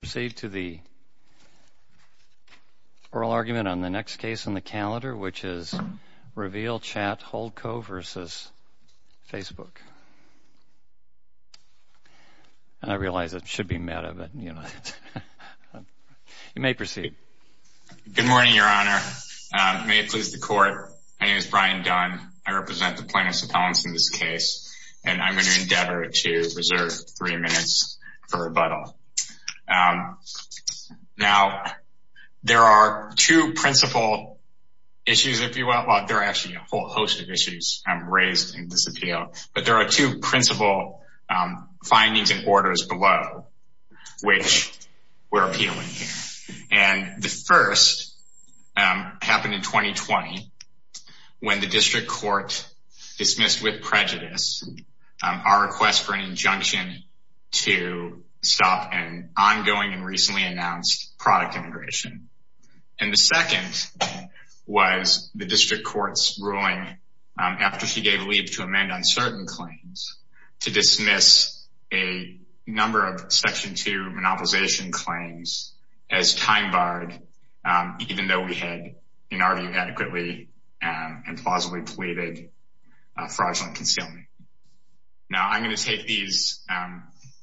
Proceed to the oral argument on the next case on the calendar, which is Reveal Chat Holdco v. Facebook. And I realize it should be meta, but you know, you may proceed. Good morning, Your Honor. May it please the Court, my name is Brian Dunn. I represent the plaintiffs' appellants in this case, and I'm going to endeavor to reserve three minutes for rebuttal. Now, there are two principal issues, if you will. Well, there are actually a whole host of issues raised in this appeal. But there are two principal findings and orders below which we're appealing here. And the first happened in 2020 when the district court dismissed with prejudice our request for an injunction to stop an ongoing and recently announced product integration. And the second was the district court's ruling after she gave leave to amend on certain claims to dismiss a number of Section 2 monopolization claims as time-barred, even though we had, in our view, adequately and plausibly pleaded fraudulent concealment. Now, I'm going to take these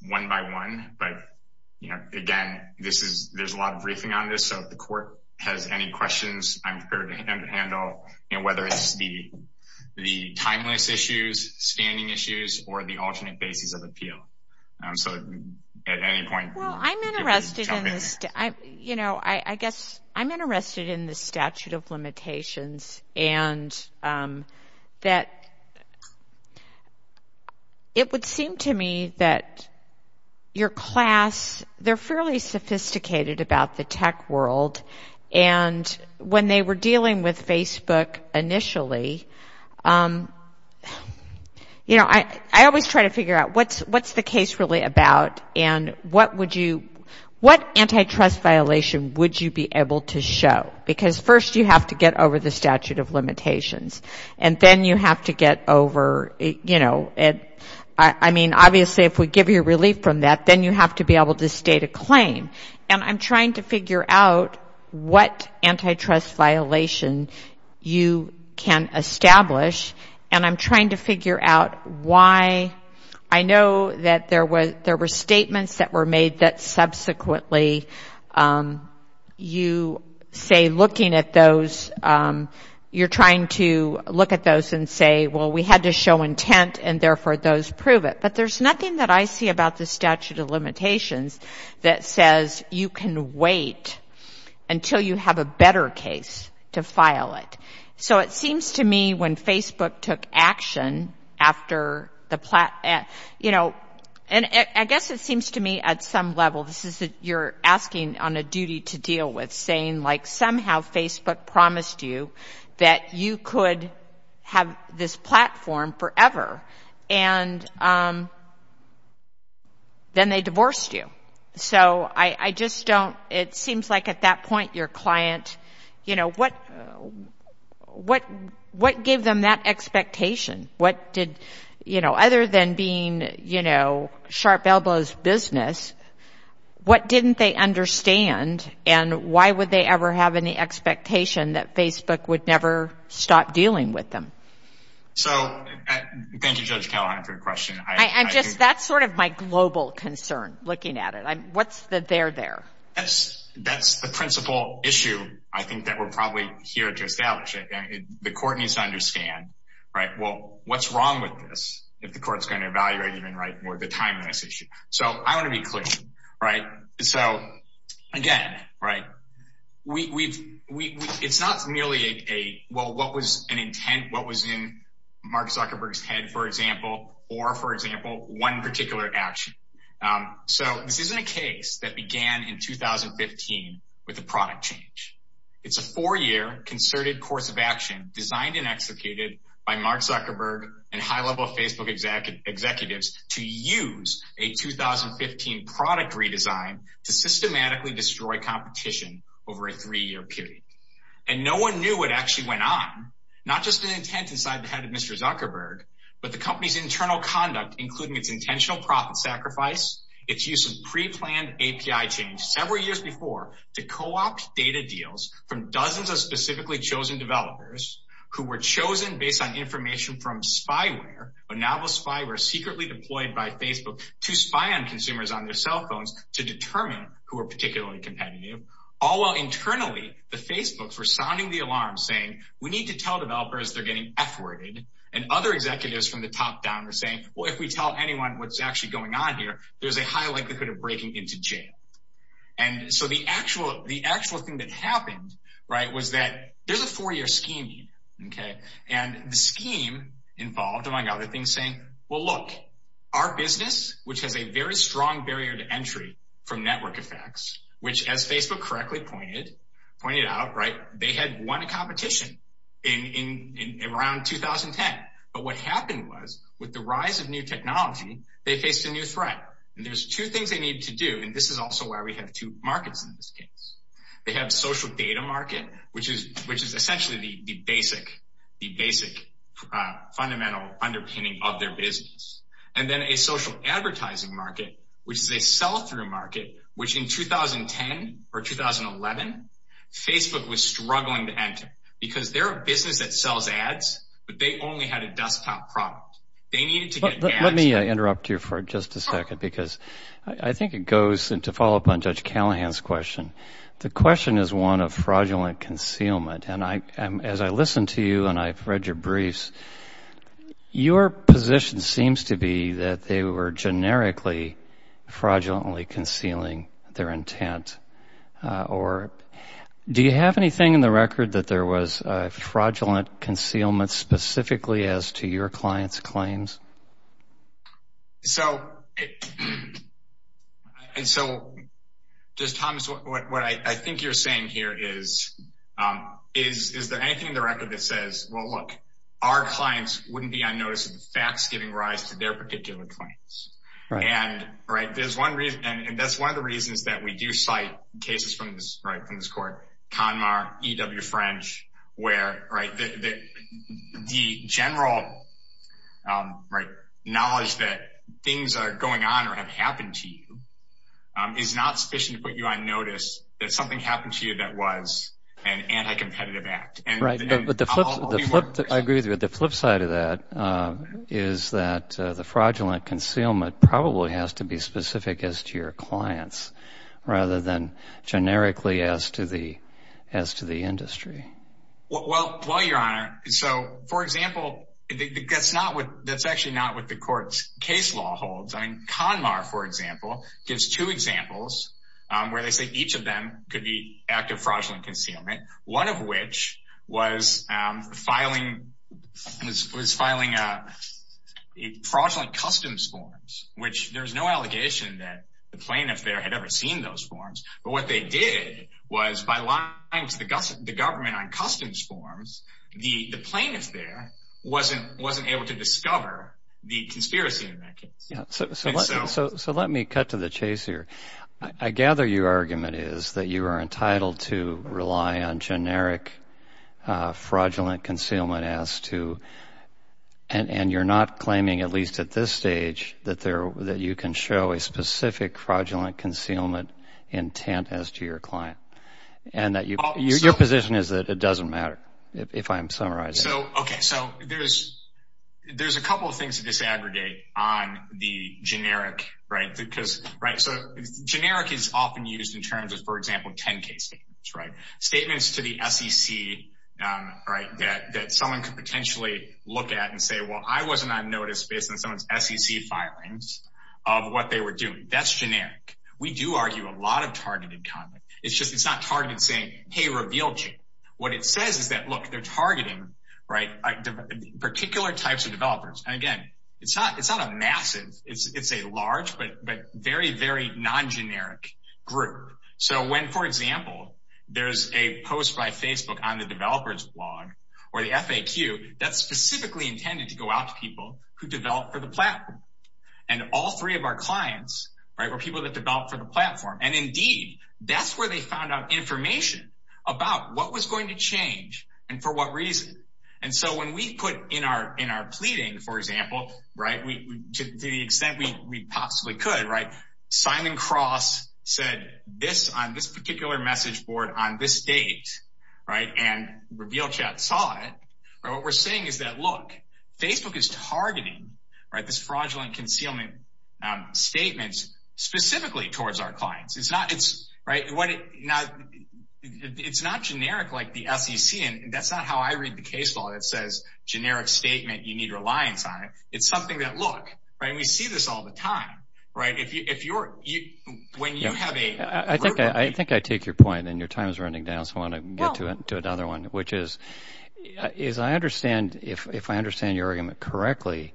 one by one, but again, there's a lot of briefing on this, so if the court has any questions, I'm prepared to handle whether it's the timeless issues, standing issues, or the alternate bases of appeal. So, at any point, feel free to jump in. You know, I guess I'm interested in the statute of limitations and that it would seem to me that your class, they're fairly sophisticated about the tech world. And when they were dealing with Facebook initially, you know, I always try to figure out what's the case really about and what antitrust violation would you be able to show? Because first, you have to get over the statute of limitations. And then you have to get over, you know, I mean, obviously, if we give you relief from that, then you have to be able to state a claim. And I'm trying to figure out what antitrust violation you can establish, and I'm trying to figure out why. I know that there were statements that were made that subsequently you say looking at those, you're trying to look at those and say, well, we had to show intent, and therefore those prove it. But there's nothing that I see about the statute of limitations that says you can wait until you have a better case to file it. So, it seems to me when Facebook took action after the, you know, and I guess it seems to me at some level this is you're asking on a duty to deal with, saying like somehow Facebook promised you that you could have this platform forever, and then they divorced you. So, I just don't, it seems like at that point your client, you know, what gave them that expectation? What did, you know, other than being, you know, sharp elbows business, what didn't they understand and why would they ever have any expectation that Facebook would never stop dealing with them? So, thank you, Judge Callahan, for your question. I'm just, that's sort of my global concern looking at it. What's the there there? That's the principal issue I think that we're probably here to establish. The court needs to understand, right? Well, what's wrong with this if the court's going to evaluate even right more the time on this issue? So, I want to be clear, right? So, again, right, we've, it's not merely a, well, what was an intent, what was in Mark Zuckerberg's head, for example, or, for example, one particular action. So, this isn't a case that began in 2015 with a product change. It's a four-year concerted course of action designed and executed by Mark Zuckerberg and high-level Facebook executives to use a 2015 product redesign to systematically destroy competition over a three-year period. And no one knew what actually went on, not just an intent inside the head of Mr. Zuckerberg, but the company's internal conduct, including its intentional profit sacrifice, its use of pre-planned API change several years before to co-opt data deals from dozens of specifically chosen developers who were chosen based on information from spyware, a novel spyware secretly deployed by Facebook to spy on consumers on their cell phones to determine who were particularly competitive. All while internally, the Facebooks were sounding the alarm, saying, we need to tell developers they're getting F-worded. And other executives from the top down were saying, well, if we tell anyone what's actually going on here, there's a high likelihood of breaking into jail. And so, the actual, the actual thing that happened, right, was that there's a four-year scheme, okay? And the scheme involved, among other things, saying, well, look, our business, which has a very strong barrier to entry from network effects, which, as Facebook correctly pointed out, right, they had won a competition in around 2010. But what happened was, with the rise of new technology, they faced a new threat. And there's two things they need to do. And this is also why we have two markets in this case. They have a social data market, which is essentially the basic, the basic fundamental underpinning of their business. And then a social advertising market, which is a sell-through market, which in 2010 or 2011, Facebook was struggling to enter because they're a business that sells ads, but they only had a desktop product. They needed to get ads. Let me interrupt you for just a second because I think it goes, and to follow up on Judge Callahan's question, the question is one of fraudulent concealment. And as I listen to you and I've read your briefs, your position seems to be that they were generically, fraudulently concealing their intent. Or do you have anything in the record that there was a fraudulent concealment specifically as to your clients' claims? So, and so, just Thomas, what I think you're saying here is, is there anything in the record that says, well, look, our clients wouldn't be unnoticed if the fact's giving rise to their particular claims. And that's one of the reasons that we do cite cases from this court, CONMAR, E.W. French, where the general knowledge that things are going on or have happened to you is not sufficient to put you on notice that something happened to you that was an anti-competitive act. I agree with you. The flip side of that is that the fraudulent concealment probably has to be specific as to your clients rather than generically as to the industry. Well, Your Honor, so, for example, that's actually not what the court's case law holds. I mean, CONMAR, for example, gives two examples where they say each of them could be active fraudulent concealment, one of which was filing fraudulent customs forms, which there's no allegation that the plaintiff there had ever seen those forms. But what they did was by lying to the government on customs forms, the plaintiff there wasn't able to discover the conspiracy in that case. So let me cut to the chase here. I gather your argument is that you are entitled to rely on generic fraudulent concealment as to – and you're not claiming, at least at this stage, that you can show a specific fraudulent concealment intent as to your client. Your position is that it doesn't matter, if I'm summarizing. So, okay, so there's a couple of things to disaggregate on the generic, right? Because, right, so generic is often used in terms of, for example, 10-K statements, right? Statements to the SEC, right, that someone could potentially look at and say, well, I wasn't on notice based on someone's SEC filings of what they were doing. That's generic. We do argue a lot of targeted content. It's just it's not targeted saying, hey, reveal chain. What it says is that, look, they're targeting, right, particular types of developers. And, again, it's not a massive – it's a large but very, very non-generic group. So when, for example, there's a post by Facebook on the developer's blog or the FAQ, that's specifically intended to go out to people who develop for the platform. And all three of our clients, right, were people that developed for the platform. And, indeed, that's where they found out information about what was going to change and for what reason. And so when we put in our pleading, for example, right, to the extent we possibly could, right, Simon Cross said this on this particular message board on this date, right, and reveal chat saw it. What we're saying is that, look, Facebook is targeting, right, this fraudulent concealment statements specifically towards our clients. It's not generic like the SEC, and that's not how I read the case law that says generic statement, you need reliance on it. It's something that, look, right, and we see this all the time, right. I think I take your point, and your time is running down, so I want to get to another one, which is, as I understand, if I understand your argument correctly,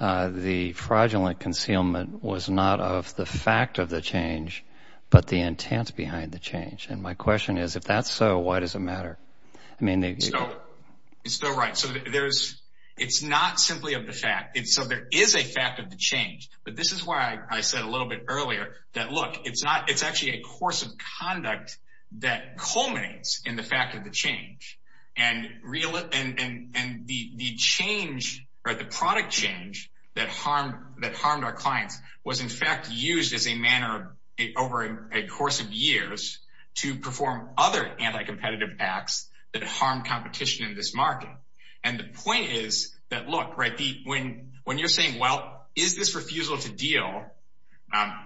the fraudulent concealment was not of the fact of the change, but the intent behind the change. And my question is, if that's so, why does it matter? It's still right. So it's not simply of the fact. So there is a fact of the change. But this is why I said a little bit earlier that, look, it's actually a course of conduct that culminates in the fact of the change. And the product change that harmed our clients was, in fact, used as a manner over a course of years to perform other anti-competitive acts that harmed competition in this market. And the point is that, look, right, when you're saying, well, is this refusal to deal,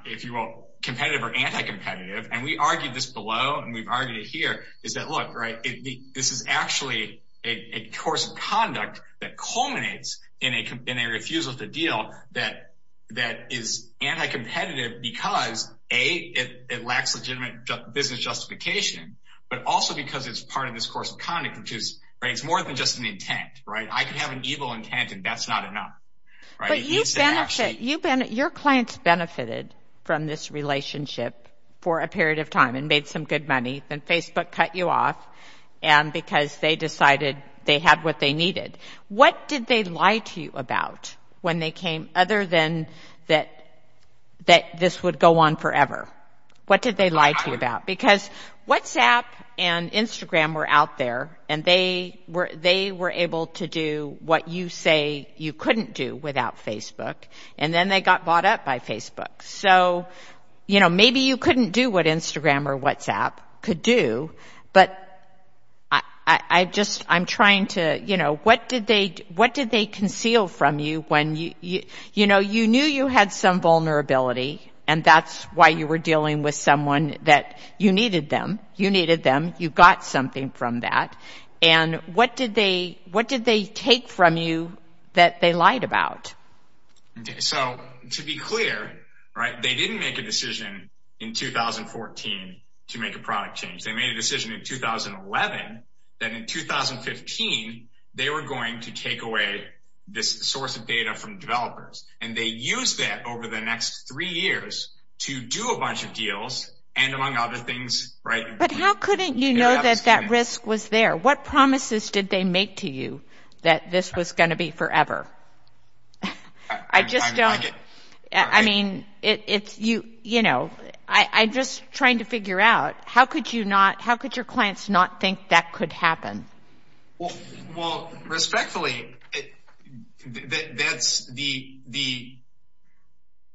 if you will, competitive or anti-competitive, and we argued this below, and we've argued it here, is that, look, right, this is actually a course of conduct that culminates in a refusal to deal that is anti-competitive because, A, it lacks legitimate business justification, but also because it's part of this course of conduct, which is, right, it's more than just an intent, right? I can have an evil intent, and that's not enough. But your clients benefited from this relationship for a period of time and made some good money, then Facebook cut you off because they decided they had what they needed. What did they lie to you about when they came, other than that this would go on forever? Because WhatsApp and Instagram were out there, and they were able to do what you say you couldn't do without Facebook, and then they got bought up by Facebook. So, you know, maybe you couldn't do what Instagram or WhatsApp could do, but I just, I'm trying to, you know, what did they conceal from you when you, you know, you knew you had some vulnerability, and that's why you were dealing with someone that you needed them, you needed them, you got something from that, and what did they, what did they take from you that they lied about? So, to be clear, right, they didn't make a decision in 2014 to make a product change. They made a decision in 2011 that in 2015 they were going to take away this source of data from developers, and they used that over the next three years to do a bunch of deals, and among other things, right. But how couldn't you know that that risk was there? What promises did they make to you that this was going to be forever? I just don't, I mean, it's, you know, I'm just trying to figure out how could you not, how could your clients not think that could happen? Well, respectfully, that's the...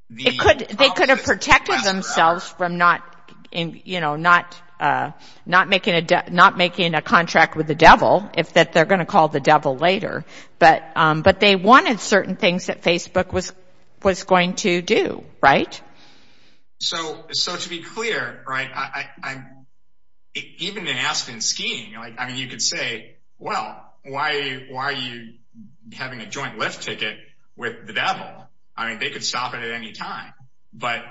They could have protected themselves from not, you know, not making a contract with the devil, if they're going to call the devil later, but they wanted certain things that Facebook was going to do, right? So, to be clear, right, even in Aspen skiing, I mean, you could say, well, why are you having a joint lift ticket with the devil? I mean, they could stop it at any time, but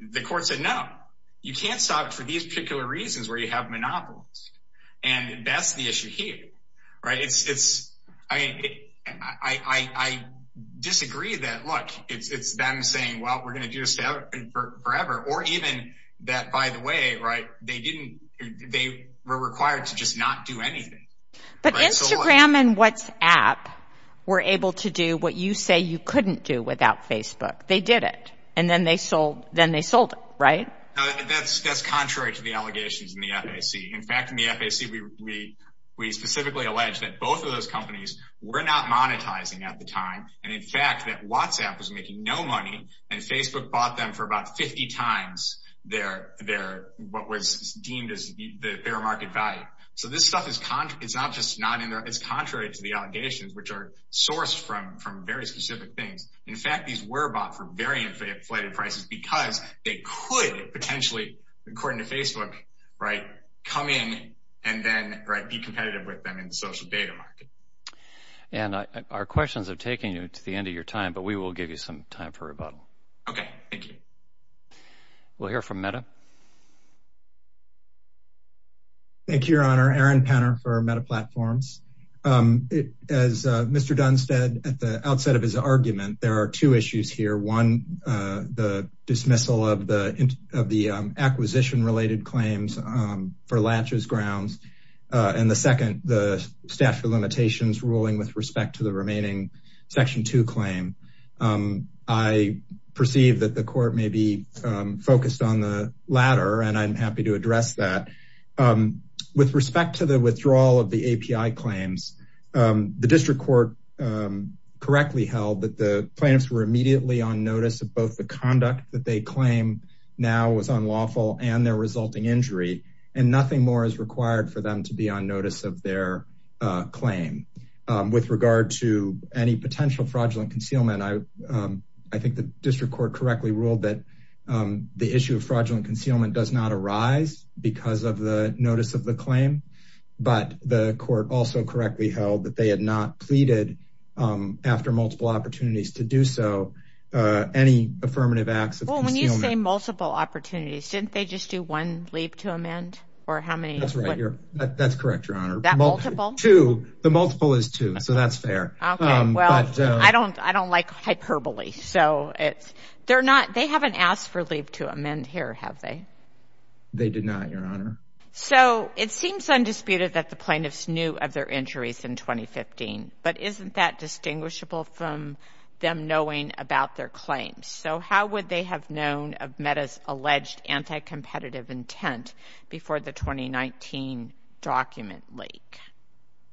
the court said no. You can't stop it for these particular reasons where you have monopolies, and that's the issue here, right? I mean, I disagree that, look, it's them saying, well, we're going to do this forever, or even that, by the way, right, they didn't, they were required to just not do anything. But Instagram and WhatsApp were able to do what you say you couldn't do without Facebook. They did it, and then they sold it, right? That's contrary to the allegations in the FAC. In fact, in the FAC, we specifically allege that both of those companies were not monetizing at the time, and, in fact, that WhatsApp was making no money, and Facebook bought them for about 50 times their, what was deemed as their market value. So this stuff is not just not in there, it's contrary to the allegations, which are sourced from very specific things. In fact, these were bought for very inflated prices because they could potentially, according to Facebook, right, come in and then, right, be competitive with them in the social data market. And our questions are taking you to the end of your time, but we will give you some time for rebuttal. Okay, thank you. We'll hear from Meta. Thank you, Your Honor. Aaron Penner for Meta Platforms. As Mr. Dunstead, at the outset of his argument, there are two issues here. One, the dismissal of the acquisition-related claims for latches grounds, and the second, the statute of limitations ruling with respect to the remaining Section 2 claim. I perceive that the court may be focused on the latter, and I'm happy to address that. With respect to the withdrawal of the API claims, the district court correctly held that the plaintiffs were immediately on notice of both the conduct that they claim now was unlawful and their resulting injury, and nothing more is required for them to be on notice of their claim. With regard to any potential fraudulent concealment, I think the district court correctly ruled that the issue of fraudulent concealment does not arise because of the notice of the claim, but the court also correctly held that they had not pleaded, after multiple opportunities to do so, any affirmative acts of concealment. Well, when you say multiple opportunities, didn't they just do one leap to amend? That's right. That's correct, Your Honor. That multiple? Two. The multiple is two, so that's fair. Okay, well, I don't like hyperbole. They haven't asked for a leap to amend here, have they? They did not, Your Honor. So it seems undisputed that the plaintiffs knew of their injuries in 2015, but isn't that distinguishable from them knowing about their claims? So how would they have known of MEDA's alleged anti-competitive intent before the 2019 document leak?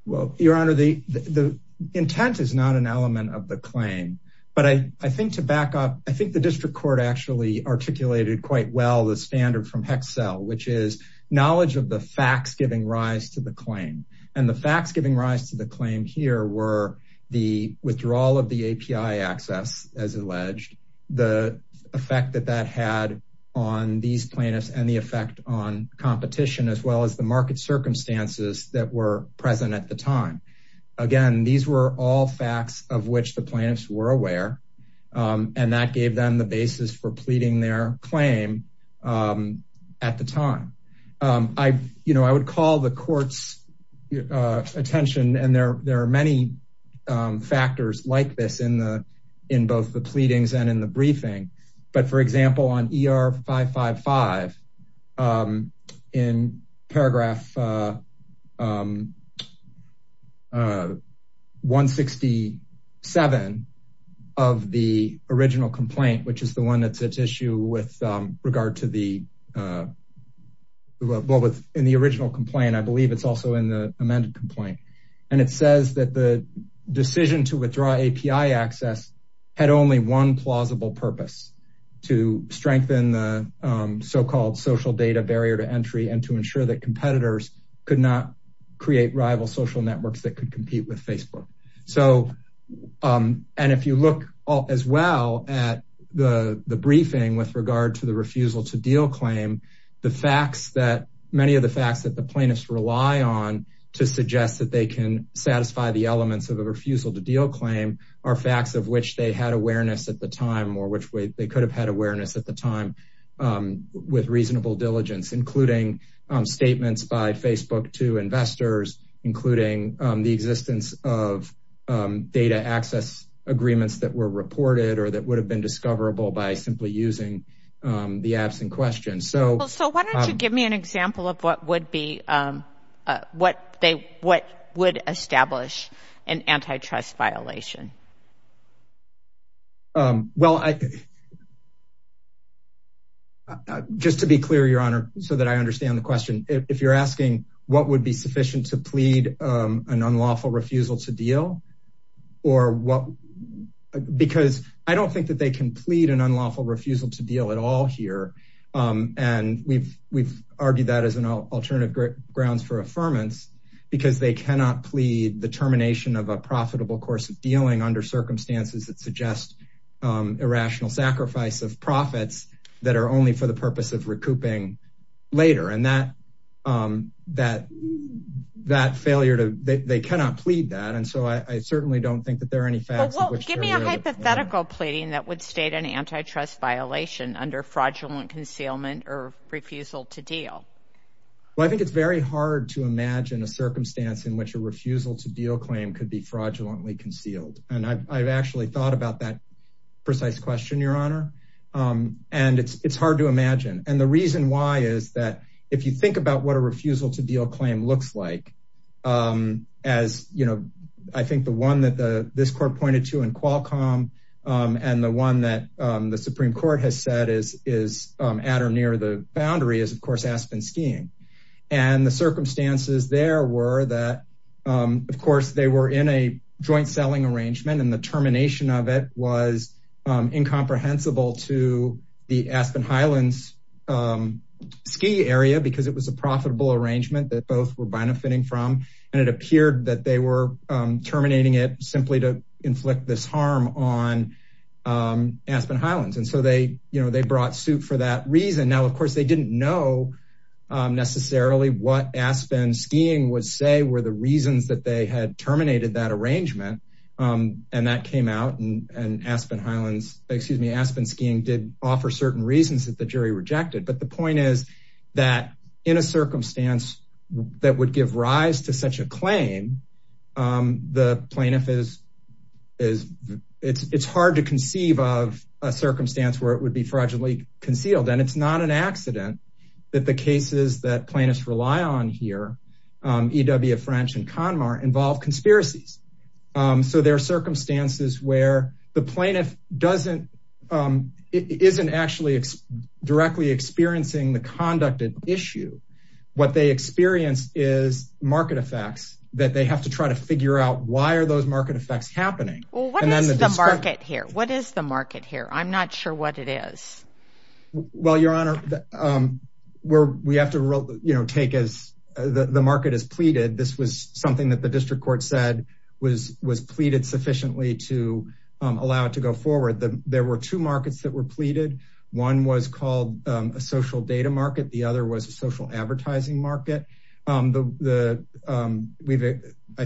Well, Your Honor, the intent is not an element of the claim, but I think to back up, I think the district court actually articulated quite well the standard from HEXEL, which is knowledge of the facts giving rise to the claim, and the facts giving rise to the claim here were the withdrawal of the API access, as alleged, the effect that that had on these plaintiffs and the effect on competition, as well as the market circumstances that were present at the time. Again, these were all facts of which the plaintiffs were aware, and that gave them the basis for pleading their claim at the time. I would call the court's attention, and there are many factors like this in both the pleadings and in the briefing, but for example, on ER 555, in paragraph 167 of the original complaint, which is the one that's at issue in the original complaint, I believe it's also in the amended complaint, and it says that the decision to withdraw API access had only one plausible purpose, to strengthen the so-called social data barrier to entry and to ensure that competitors could not create rival social networks that could compete with Facebook. If you look as well at the briefing with regard to the refusal to deal claim, many of the facts that the plaintiffs rely on to suggest that they can satisfy the elements of a refusal to deal claim are facts of which they had awareness at the time, with reasonable diligence, including statements by Facebook to investors, including the existence of data access agreements that were reported or that would have been discoverable by simply using the absent question. So why don't you give me an example of what would establish an antitrust violation? Just to be clear, Your Honor, so that I understand the question, if you're asking what would be sufficient to plead an unlawful refusal to deal, because I don't think that they can plead an unlawful refusal to deal at all here, and we've argued that as an alternative grounds for affirmance, because they cannot plead the termination of a profitable course of dealing under circumstances that suggest irrational sacrifice of profits that are only for the purpose of recouping later. And that failure, they cannot plead that, and so I certainly don't think that there are any facts of which they're aware. Well, give me a hypothetical pleading that would state an antitrust violation under fraudulent concealment or refusal to deal. Well, I think it's very hard to imagine a circumstance in which a refusal to deal claim could be fraudulently concealed. And I've actually thought about that precise question, Your Honor, and it's hard to imagine. And the reason why is that if you think about what a refusal to deal claim looks like, as, you know, I think the one that this court pointed to in Qualcomm, and the one that the Supreme Court has said is at or near the boundary is, of course, Aspen skiing. And the circumstances there were that, of course, they were in a joint selling arrangement, and the termination of it was incomprehensible to the Aspen Highlands ski area, because it was a profitable arrangement that both were benefiting from, and it appeared that they were terminating it simply to inflict this harm on Aspen Highlands. And so they brought suit for that reason. Now, of course, they didn't know necessarily what Aspen skiing would say were the reasons that they had terminated that arrangement, and that came out. And Aspen Highlands, excuse me, Aspen skiing did offer certain reasons that the jury rejected. But the point is that in a circumstance that would give rise to such a claim, the plaintiff is it's hard to conceive of a circumstance where it would be fraudulently concealed. And it's not an accident that the cases that plaintiffs rely on here, E.W. French and Conmar involve conspiracies. So there are circumstances where the plaintiff isn't actually directly experiencing the conducted issue. What they experience is market effects that they have to try to figure out why are those market effects happening? Well, what is the market here? What is the market here? I'm not sure what it is. Well, Your Honor, we have to take as the market is pleaded. This was something that the district court said was pleaded sufficiently to allow it to go forward. There were two markets that were pleaded. One was called a social data market. The other was a social advertising market. I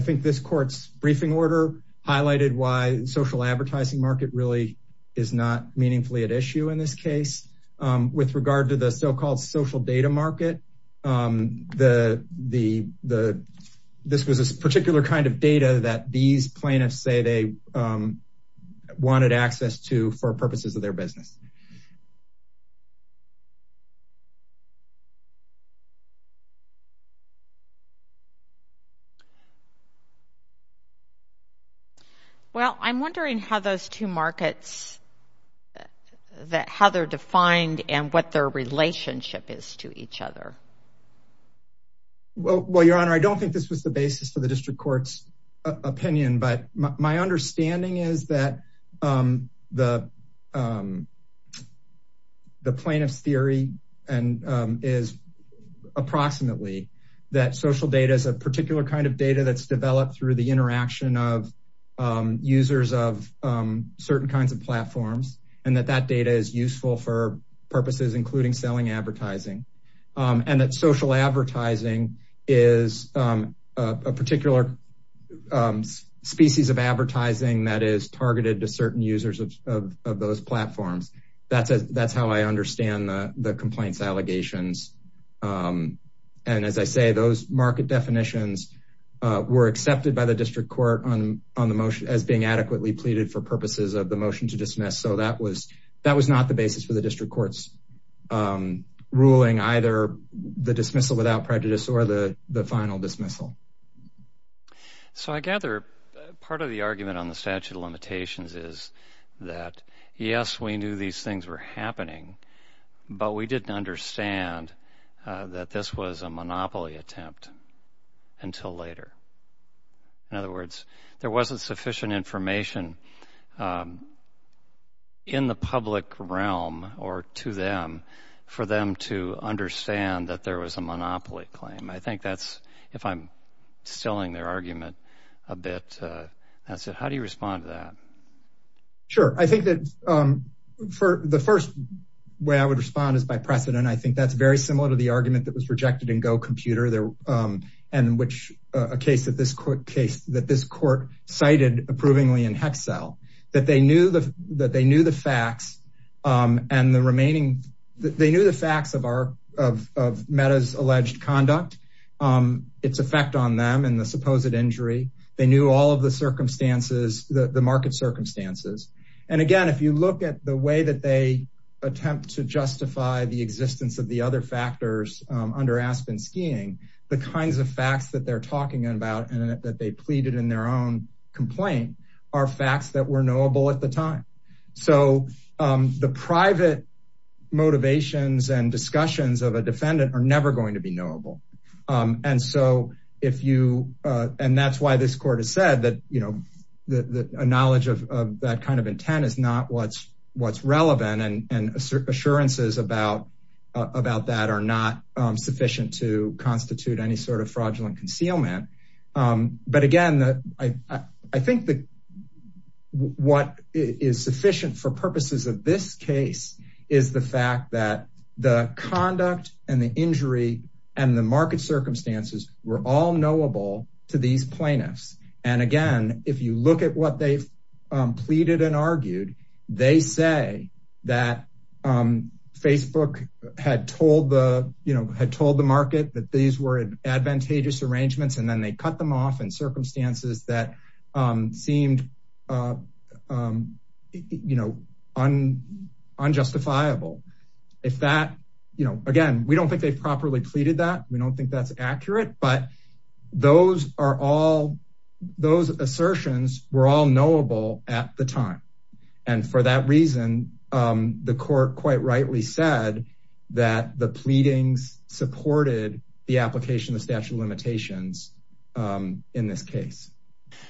think this court's briefing order highlighted why social advertising market really is not meaningfully at issue in this case. With regard to the so-called social data market, this was a particular kind of data that these plaintiffs say they wanted access to for purposes of their business. Well, I'm wondering how those two markets, how they're defined and what their relationship is to each other. Well, Your Honor, I don't think this was the basis for the district court's opinion. But my understanding is that the plaintiff's theory is approximately that social data is a particular kind of data that's developed through the interaction of users of certain kinds of platforms and that that data is useful for purposes, including selling advertising. And that social advertising is a particular species of advertising that is targeted to certain users of those platforms. That's how I understand the complaints allegations. And as I say, those market definitions were accepted by the district court on the motion as being adequately pleaded for purposes of the motion to dismiss. So that was that was not the basis for the district court's ruling, either the dismissal without prejudice or the final dismissal. So I gather part of the argument on the statute of limitations is that, yes, we knew these things were happening, but we didn't understand that this was a monopoly attempt until later. In other words, there wasn't sufficient information in the public realm or to them for them to understand that there was a monopoly claim. I think that's if I'm selling their argument a bit. That's it. How do you respond to that? Sure. I think that for the first way I would respond is by precedent. I think that's very similar to the argument that was rejected and go computer there and which a case that this court case that this court cited approvingly in Excel that they knew that they knew the facts and the remaining. They knew the facts of our of META's alleged conduct, its effect on them and the supposed injury. They knew all of the circumstances, the market circumstances. And again, if you look at the way that they attempt to justify the existence of the other factors under Aspen skiing, the kinds of facts that they're talking about and that they pleaded in their own complaint are facts that were knowable at the time. So the private motivations and discussions of a defendant are never going to be knowable. And so if you and that's why this court has said that, you know, the knowledge of that kind of intent is not what's what's relevant and assurances about about that are not sufficient to constitute any sort of fraudulent concealment. But again, I think that what is sufficient for purposes of this case is the fact that the conduct and the injury and the market circumstances were all knowable to these plaintiffs. And again, if you look at what they've pleaded and argued, they say that Facebook had told the you know, had told the market that these were advantageous arrangements. And then they cut them off in circumstances that seemed, you know, on unjustifiable. If that, you know, again, we don't think they've properly pleaded that we don't think that's accurate. But those are all those assertions were all knowable at the time. And for that reason, the court quite rightly said that the pleadings supported the application of statute of limitations in this case.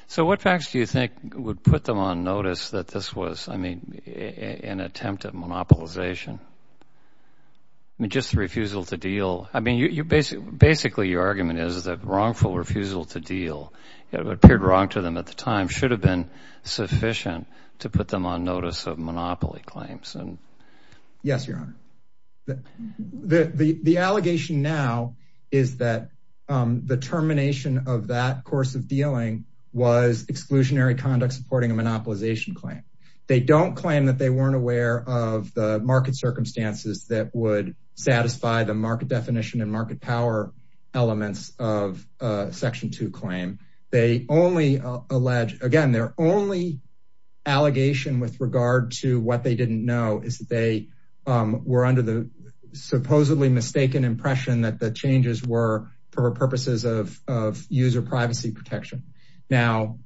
So what facts do you think would put them on notice that this was, I mean, an attempt at monopolization? I mean, just the refusal to deal. I mean, you basically basically your argument is that wrongful refusal to deal appeared wrong to them at the time should have been sufficient to put them on notice of monopoly claims. Yes, Your Honor. The allegation now is that the termination of that course of dealing was exclusionary conduct supporting a monopolization claim. They don't claim that they weren't aware of the market circumstances that would satisfy the market definition and market power elements of Section 2 claim. They only allege again, their only allegation with regard to what they didn't know is that they were under the supposedly mistaken impression that the changes were for purposes of user privacy protection. Now,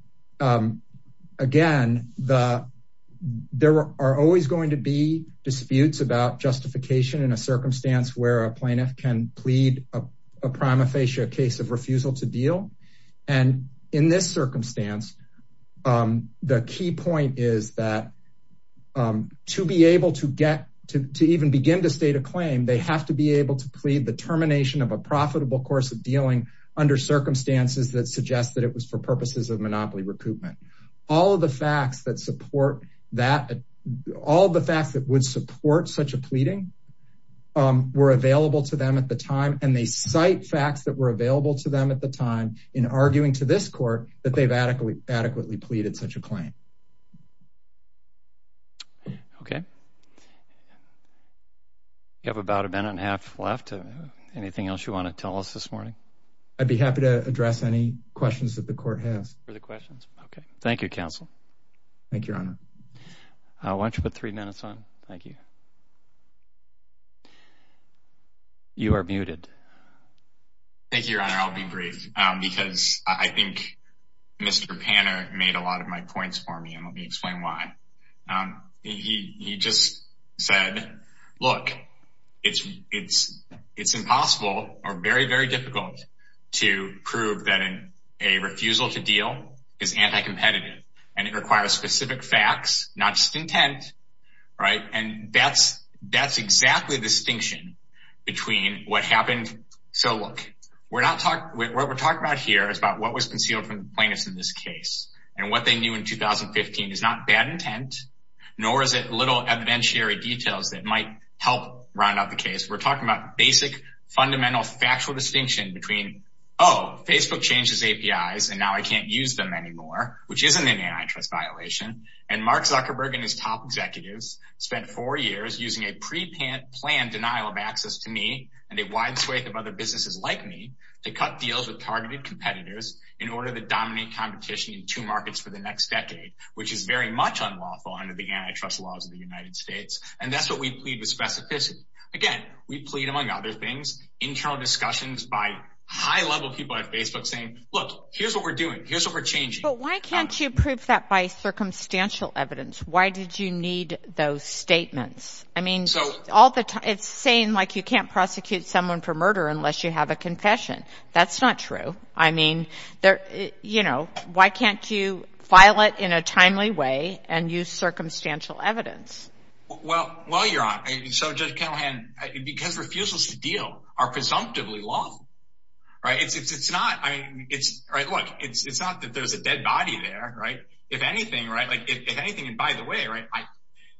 again, there are always going to be disputes about justification in a circumstance where a plaintiff can plead a prima facie case of refusal to deal. And in this circumstance, the key point is that to be able to get to even begin to state a claim, they have to be able to plead the termination of a profitable course of dealing under circumstances that suggests that it was for purposes of monopoly recoupment. All of the facts that support that all the facts that would support such a pleading were available to them at the time, and they cite facts that were available to them at the time in arguing to this court that they've adequately adequately pleaded such a claim. Okay. You have about a minute and a half left. Anything else you want to tell us this morning? I'd be happy to address any questions that the court has for the questions. Okay. Thank you, counsel. Thank you, Your Honor. Why don't you put three minutes on? Thank you. You are muted. Thank you, Your Honor. I'll be brief because I think Mr. Panner made a lot of my points for me, and let me explain why. He just said, look, it's impossible or very, very difficult to prove that a refusal to deal is anti-competitive, and it requires specific facts, not just intent, right? And that's exactly the distinction between what happened. So, look, what we're talking about here is about what was concealed from the plaintiffs in this case, and what they knew in 2015 is not bad intent, nor is it little evidentiary details that might help round out the case. We're talking about basic, fundamental, factual distinction between, oh, Facebook changed its APIs, and now I can't use them anymore, which isn't an antitrust violation, and Mark Zuckerberg and his top executives spent four years using a pre-planned denial of access to me and a wide swathe of other businesses like me to cut deals with targeted competitors in order to dominate competition in two markets for the next decade, which is very much unlawful under the antitrust laws of the United States, and that's what we plead with specificity. Again, we plead, among other things, internal discussions by high-level people at Facebook saying, look, here's what we're doing, here's what we're changing. But why can't you prove that by circumstantial evidence? Why did you need those statements? I mean, it's saying, like, you can't prosecute someone for murder unless you have a confession. That's not true. I mean, why can't you file it in a timely way and use circumstantial evidence? Well, well, Your Honor, so, Judge Kennelhan, because refusals to deal are presumptively lawful, right, it's not, I mean, it's, right, look, it's not that there's a dead body there, right? If anything, right, like, if anything, and by the way, right,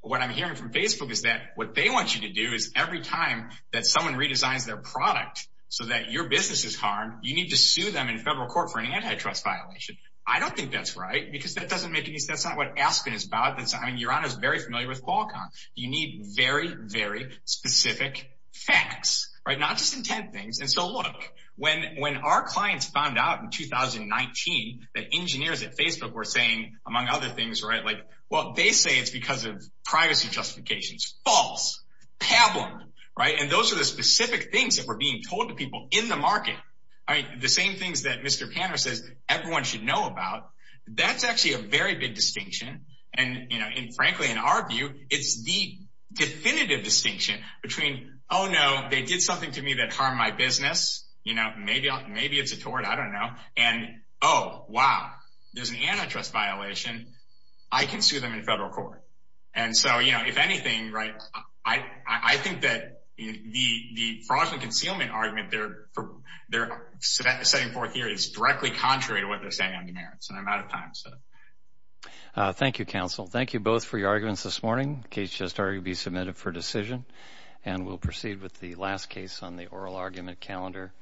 what I'm hearing from Facebook is that what they want you to do is every time that someone redesigns their product so that your business is harmed, you need to sue them in federal court for an antitrust violation. I don't think that's right, because that doesn't make any sense. That's not what Aspen is about. I mean, Your Honor is very familiar with Qualcomm. You need very, very specific facts, right, not just intent things. And so, look, when our clients found out in 2019 that engineers at Facebook were saying, among other things, right, like, well, they say it's because of privacy justifications. False. Pablum. Right? And those are the specific things that were being told to people in the market. I mean, the same things that Mr. Panner says everyone should know about, that's actually a very big distinction. And, you know, and frankly, in our view, it's the definitive distinction between, oh, no, they did something to me that harmed my business. You know, maybe, maybe it's a tort. I don't know. And, oh, wow, there's an antitrust violation. I can sue them in federal court. And so, you know, if anything, right, I think that the fraudulent concealment argument they're setting forth here is directly contrary to what they're saying on demerits. And I'm out of time. Thank you, counsel. Thank you both for your arguments this morning. The case has already been submitted for decision. And we'll proceed with the last case on the oral argument calendar.